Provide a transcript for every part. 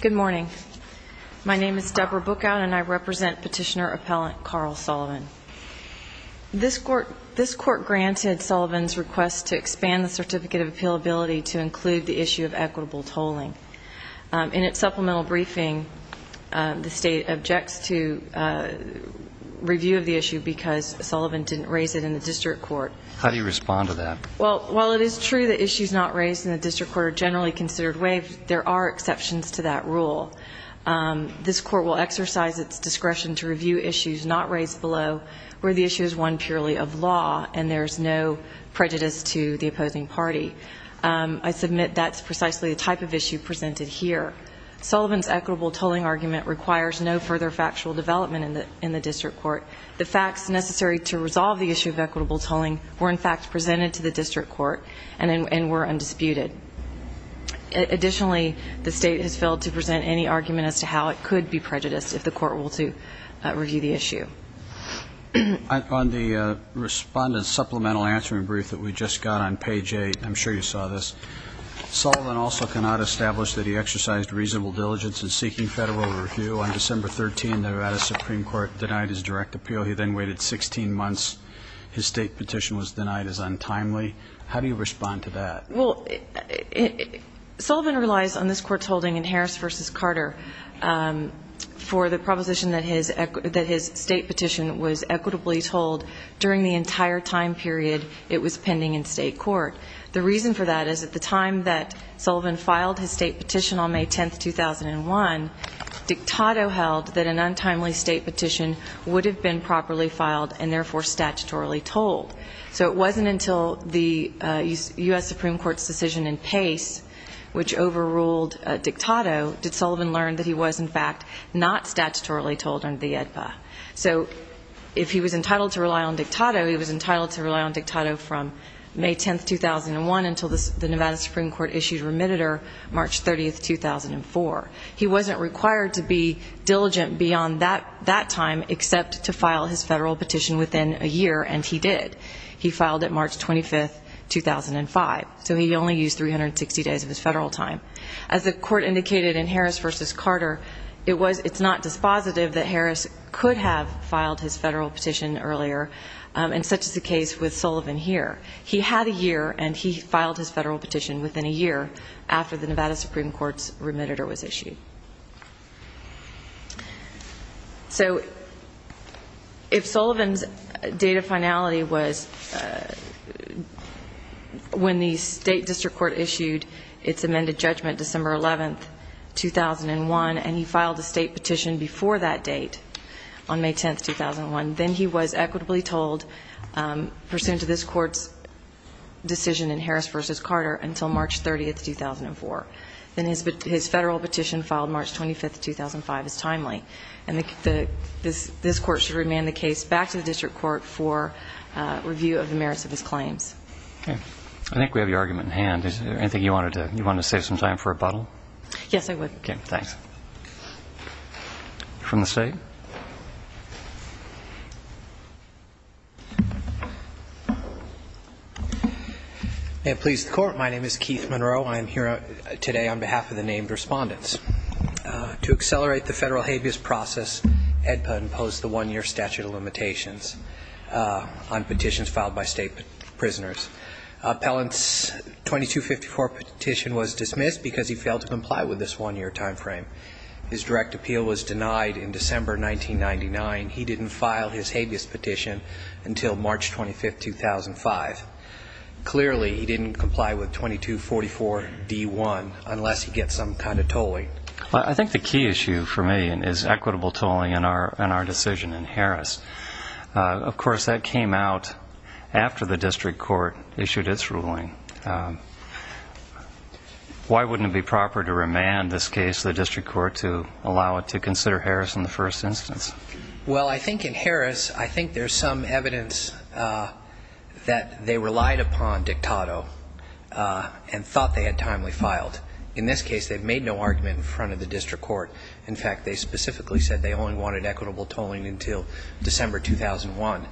Good morning. My name is Debra Bookout, and I represent Petitioner Appellant Carl Sullivan. This Court granted Sullivan's request to expand the Certificate of Appealability to include the issue of equitable tolling. In its supplemental briefing, the State objects to review of the issue because Sullivan didn't raise it in the District Court. How do you respond to that? Well, while it is true that issues not raised in the District Court are generally considered waived, there are exceptions to that rule. This Court will exercise its discretion to review issues not raised below where the issue is one purely of law and there is no prejudice to the opposing party. I submit that's precisely the type of issue presented here. Sullivan's equitable tolling argument requires no further factual development in the District Court. The facts necessary to resolve the issue of equitable tolling were, in fact, presented to the District Court and were undisputed. Additionally, the State has failed to present any argument as to how it could be prejudiced if the Court were to review the issue. On the respondent's supplemental answering brief that we just got on page 8, I'm sure you saw this, Sullivan also cannot establish that he exercised reasonable diligence in seeking federal review. On December 13, the Nevada Supreme Court denied his direct appeal. He then waited 16 months. His State petition was denied as untimely. How do you respond to that? Well, Sullivan relies on this Court's holding in Harris v. Carter for the proposition that his State petition was equitably tolled during the entire time period it was pending in State Court. The reason for that is at the time that Sullivan filed his State petition on therefore statutorily tolled. So it wasn't until the U.S. Supreme Court's decision in Pace, which overruled Dictato, did Sullivan learn that he was, in fact, not statutorily tolled under the AEDPA. So if he was entitled to rely on Dictato, he was entitled to rely on Dictato from May 10, 2001 until the Nevada Supreme Court issued remitted her March 30, 2004. He wasn't required to be diligent beyond that time except to file his federal petition within a year, and he did. He filed it March 25, 2005. So he only used 360 days of his federal time. As the Court indicated in Harris v. Carter, it's not dispositive that Harris could have filed his federal petition earlier, and such is the case with Sullivan here. He had a year, and he filed his federal petition within a year after the Nevada Supreme Court's remitted her was issued. So if Sullivan's date of finality was when the State District Court issued its amended judgment December 11, 2001, and he filed a State petition before that date on May 10, 2001, then he was equitably tolled pursuant to this Court's decision in Harris v. Carter until March 30, 2004. Then his federal petition filed March 25, 2005 is timely, and this Court should remand the case back to the District Court for review of the merits of his claims. Okay. I think we have your argument in hand. Is there anything you wanted to save some time for rebuttal? Yes, I would. Okay. Thanks. From the State? May it please the Court, my name is Keith Monroe. I am here today on behalf of the named respondents. To accelerate the federal habeas process, EDPA imposed the one-year statute of limitations on petitions filed by state prisoners. Pellant's 2254 petition was dismissed because he failed to comply with this one-year time frame. His direct appeal was denied in December 1999. He didn't file his habeas petition until March 25, 2005. Clearly, he didn't comply with 2244D1 unless he gets some kind of tolling. I think the key issue for me is equitable tolling in our decision in Harris. Of course, that came out after the District Court issued its ruling. Why wouldn't it be proper to remand this case to the District Court to allow it to consider Harris in the first instance? Well, I think in Harris, I think there's some evidence that they relied upon Dictato and thought they had timely filed. In this case, they've made no argument in front of the District Court in 2001.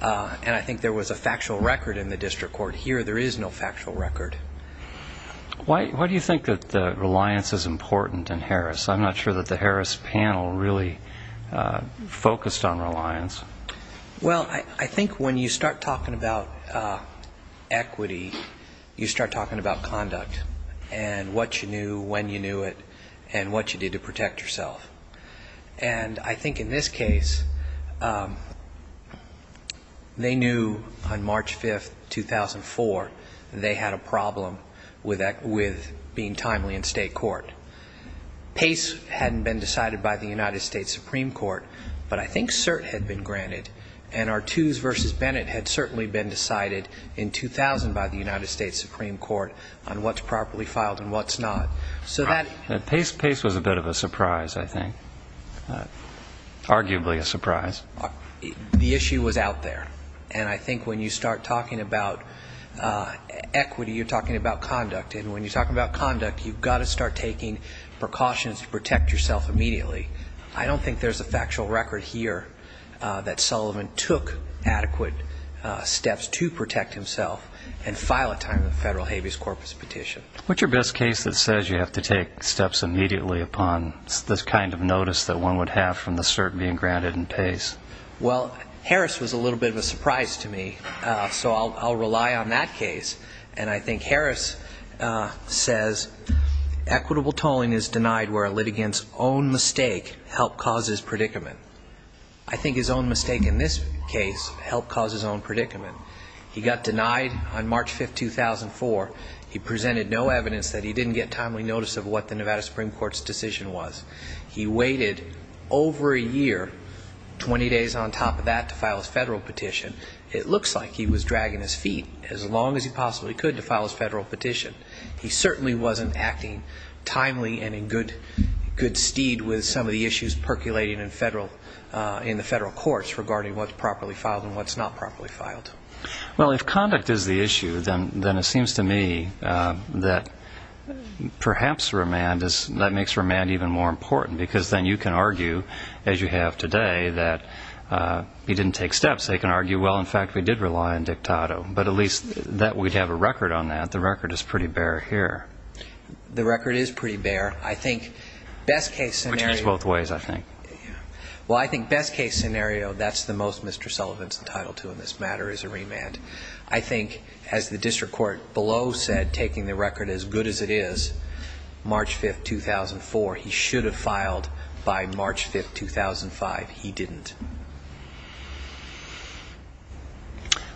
And I think there was a factual record in the District Court. Here, there is no factual record. Why do you think that reliance is important in Harris? I'm not sure that the Harris panel really focused on reliance. Well, I think when you start talking about equity, you start talking about conduct and what you knew, when you knew it, and what you did to protect yourself. And I think in this case, they knew on March 5, 2004, they had a problem with being timely in state court. Pace hadn't been decided by the United States Supreme Court, but I think cert had been granted. And Artoos v. Bennett had certainly been decided in 2000 by the United States Supreme Court on what's properly filed and what's not. So Pace was a bit of a surprise, I think. Arguably a surprise. The issue was out there. And I think when you start talking about equity, you're talking about conduct. And when you're talking about conduct, you've got to start taking precautions to protect yourself immediately. I don't think there's a factual record here that Sullivan took adequate steps to protect himself and file a timely federal habeas corpus petition. What's your best case that says you have to take steps immediately upon this kind of notice that one would have from the cert being granted in Pace? Well, Harris was a little bit of a surprise to me, so I'll rely on that case. And I think Harris says equitable tolling is denied where a litigant's own mistake helped cause his predicament. I think his own mistake in this case helped cause his own predicament. He got denied on March 5, 2004. He presented no evidence that he didn't get timely notice of what the Nevada Supreme Court's decision was. He waited over a year, 20 days on top of that, to file his federal petition. It looks like he was dragging his feet as long as he possibly could to file his federal petition. He certainly wasn't acting timely and in good steed with some of the issues percolating in the federal courts regarding what's properly filed. Well, if conduct is the issue, then it seems to me that perhaps remand is, that makes remand even more important because then you can argue, as you have today, that he didn't take steps. They can argue, well, in fact, we did rely on Dictato. But at least that we'd have a record on that. The record is pretty bare here. The record is pretty bare. I think best case scenario Which is both ways, I think. Well, I think best case scenario, that's the most Mr. Sullivan's entitled to in this matter, is a remand. I think, as the district court below said, taking the record as good as it is, March 5, 2004, he should have filed by March 5, 2005. He didn't.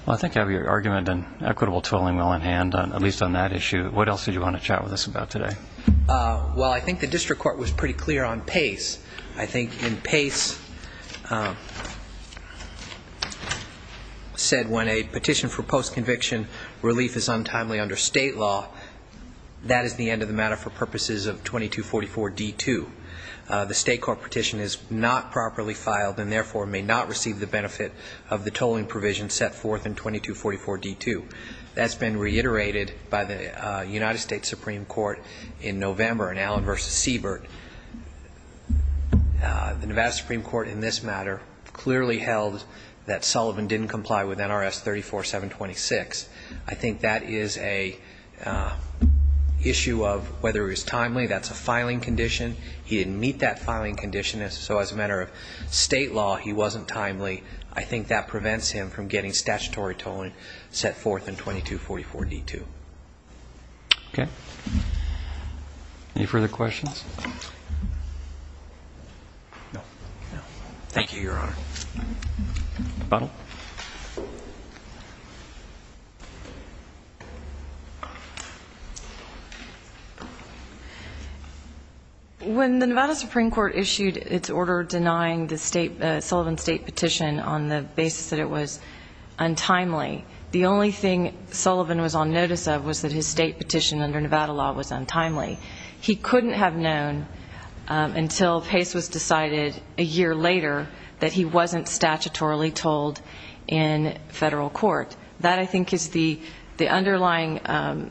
Well, I think you have your argument and equitable tooling well in hand, at least on that issue. What else did you want to chat with us about today? Well, I think the district court was pretty clear on PACE. I think in PACE, said when a petition for post-conviction relief is untimely under state law, that is the end of the matter for purposes of 2244D2. The state court petition is not properly filed and therefore may not receive the benefit of the tolling provision set forth in 2244D2. That's been reiterated by the United States Supreme Court in November in Allen v. Siebert. The Nevada Supreme Court in this matter clearly held that Sullivan didn't comply with NRS 34726. I think that is an issue of whether it was timely. That's a filing condition. He didn't meet that filing condition, so as a matter of state law, he wasn't timely. I think that prevents him from getting statutory tolling set forth in 2244D2. When the Nevada Supreme Court issued its order denying the Sullivan State petition on the basis of untimely, the only thing Sullivan was on notice of was that his state petition under Nevada law was untimely. He couldn't have known until PACE was decided a year later that he wasn't statutorily tolled in federal court. That, I think, is the underlying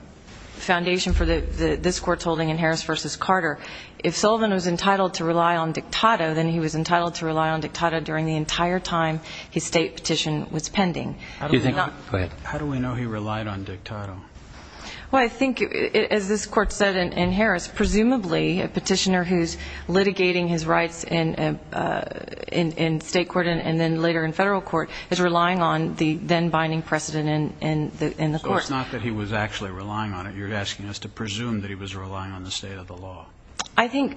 foundation for this court's holding in Harris v. Carter. If Sullivan was entitled to rely on dictato, then he was entitled to rely on dictato during the entire time his state petition was pending. How do we know he relied on dictato? Well, I think, as this court said in Harris, presumably a petitioner who's litigating his rights in state court and then later in federal court is relying on the then-binding precedent in the court. So it's not that he was actually relying on it. You're asking us to presume that he was relying on the state of the law. I think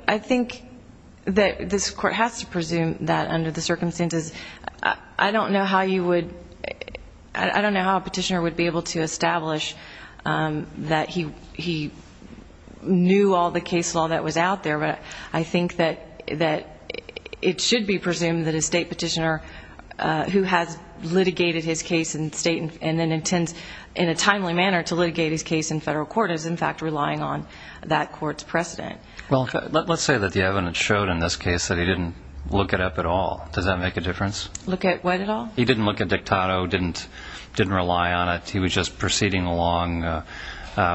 that this court has to presume that under the circumstances. I don't know how you would, I don't know how a petitioner would be able to establish that he knew all the case law that was out there, but I think that it should be presumed that a state petitioner who has litigated his case in state and then intends in a timely manner to litigate his case in federal court is in fact relying on that court's precedent. Well, let's say that the evidence showed in this case that he didn't look it up at all. Does that make a difference? Look at what at all? He didn't look at dictato, didn't rely on it. He was just proceeding along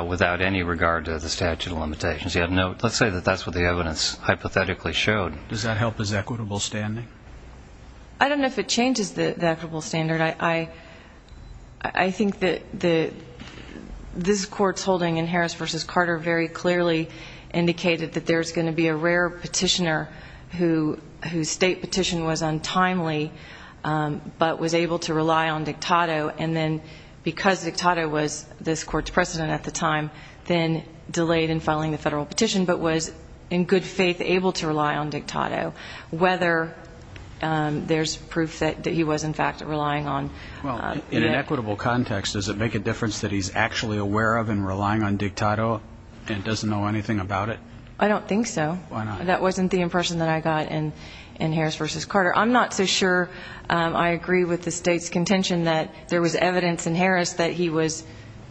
without any regard to the statute of limitations. He had no, let's say that that's what the evidence hypothetically showed. Does that help his equitable standing? I don't know if it changes the equitable standard. I think that this court's holding in Harris v. Carter very clearly indicated that there's going to be a rare petitioner whose state petition was untimely, but was able to rely on dictato, and then because dictato was this court's precedent at the time, then delayed in filing the federal petition, but was in good faith able to rely on dictato, whether there's proof that he was in fact relying on. Well, in an equitable context, does it make a difference that he's actually aware of and relying on dictato and doesn't know anything about it? I don't think so. Why not? That wasn't the impression that I got in Harris v. Carter. I'm not so sure I agree with the state's contention that there was evidence in Harris that he was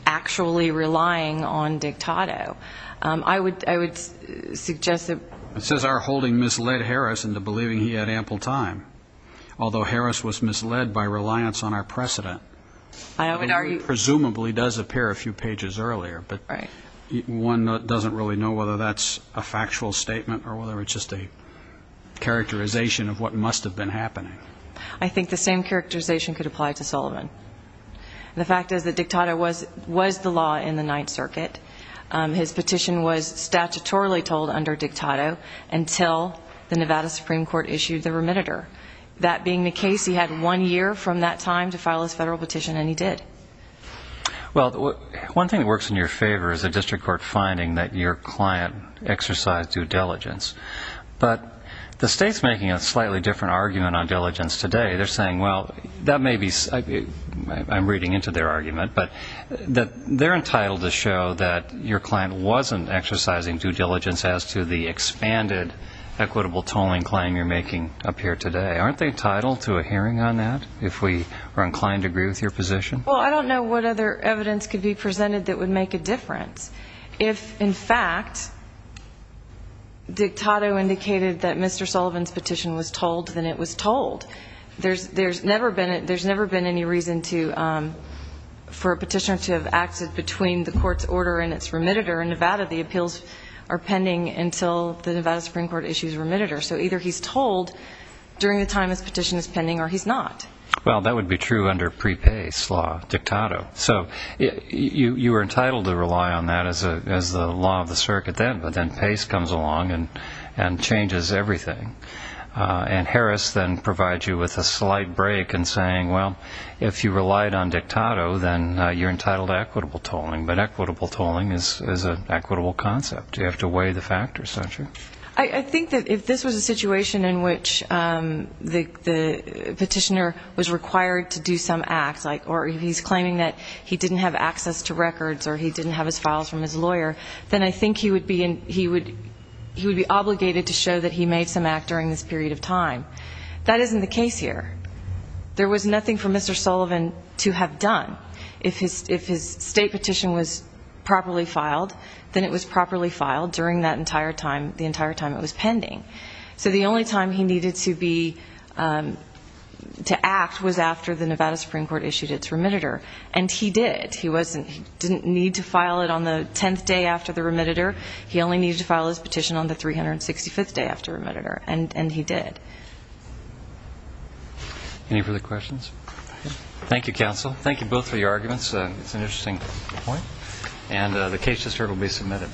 actually relying on It says our holding misled Harris into believing he had ample time, although Harris was misled by reliance on our precedent. I would argue presumably does appear a few pages earlier, but one doesn't really know whether that's a factual statement or whether it's just a characterization of what must have been happening. I think the same characterization could apply to Sullivan. The fact is that dictato was the law in the Ninth Circuit. His petition was statutorily told under dictato until the Nevada Supreme Court issued the remitter. That being the case, he had one year from that time to file his federal petition, and he did. Well, one thing that works in your favor is a district court finding that your client exercised due diligence, but the state's making a slightly different argument on diligence today. They're saying, well, that may be, I'm reading into their argument, but they're entitled to show that your client wasn't exercising due diligence as to the expanded equitable tolling claim you're making up here today. Aren't they entitled to a hearing on that if we are inclined to agree with your position? Well, I don't know what other evidence could be presented that would make a difference. If, in fact, dictato indicated that Mr. Sullivan's petition was told, then it was told. There's never been any reason for a petitioner to have acted between the court's order and its remitter. In Nevada, the appeals are pending until the Nevada Supreme Court issues a remitter. So either he's told during the time his petition is pending, or he's not. Well, that would be true under pre-Pace law, dictato. So you were entitled to rely on that as the law of the circuit then, but then Pace comes along and changes everything. And Harris then provides you with a slight break in saying, well, if you relied on dictato, then you're entitled to equitable tolling. But equitable tolling is an equitable concept. You have to weigh the factors, don't you? I think that if this was a situation in which the petitioner was required to do some act, or he's claiming that he didn't have access to records or he didn't have his files from his lawyer, then I think he would be obligated to show that he made some act during this period of time. That isn't the case here. There was nothing for Mr. Sullivan to have done. If his state petition was properly filed, then it was properly filed during that entire time, the entire time it was pending. So the only time he needed to act was after the Nevada Supreme Court issued its remitter. And he did. He didn't need to file it on the 10th day after the remitter. He only needed to file his petition on the 365th day after the remitter. And he did. Any further questions? Thank you, counsel. Thank you both for your arguments. It's an interesting point. And the case just heard will be submitted.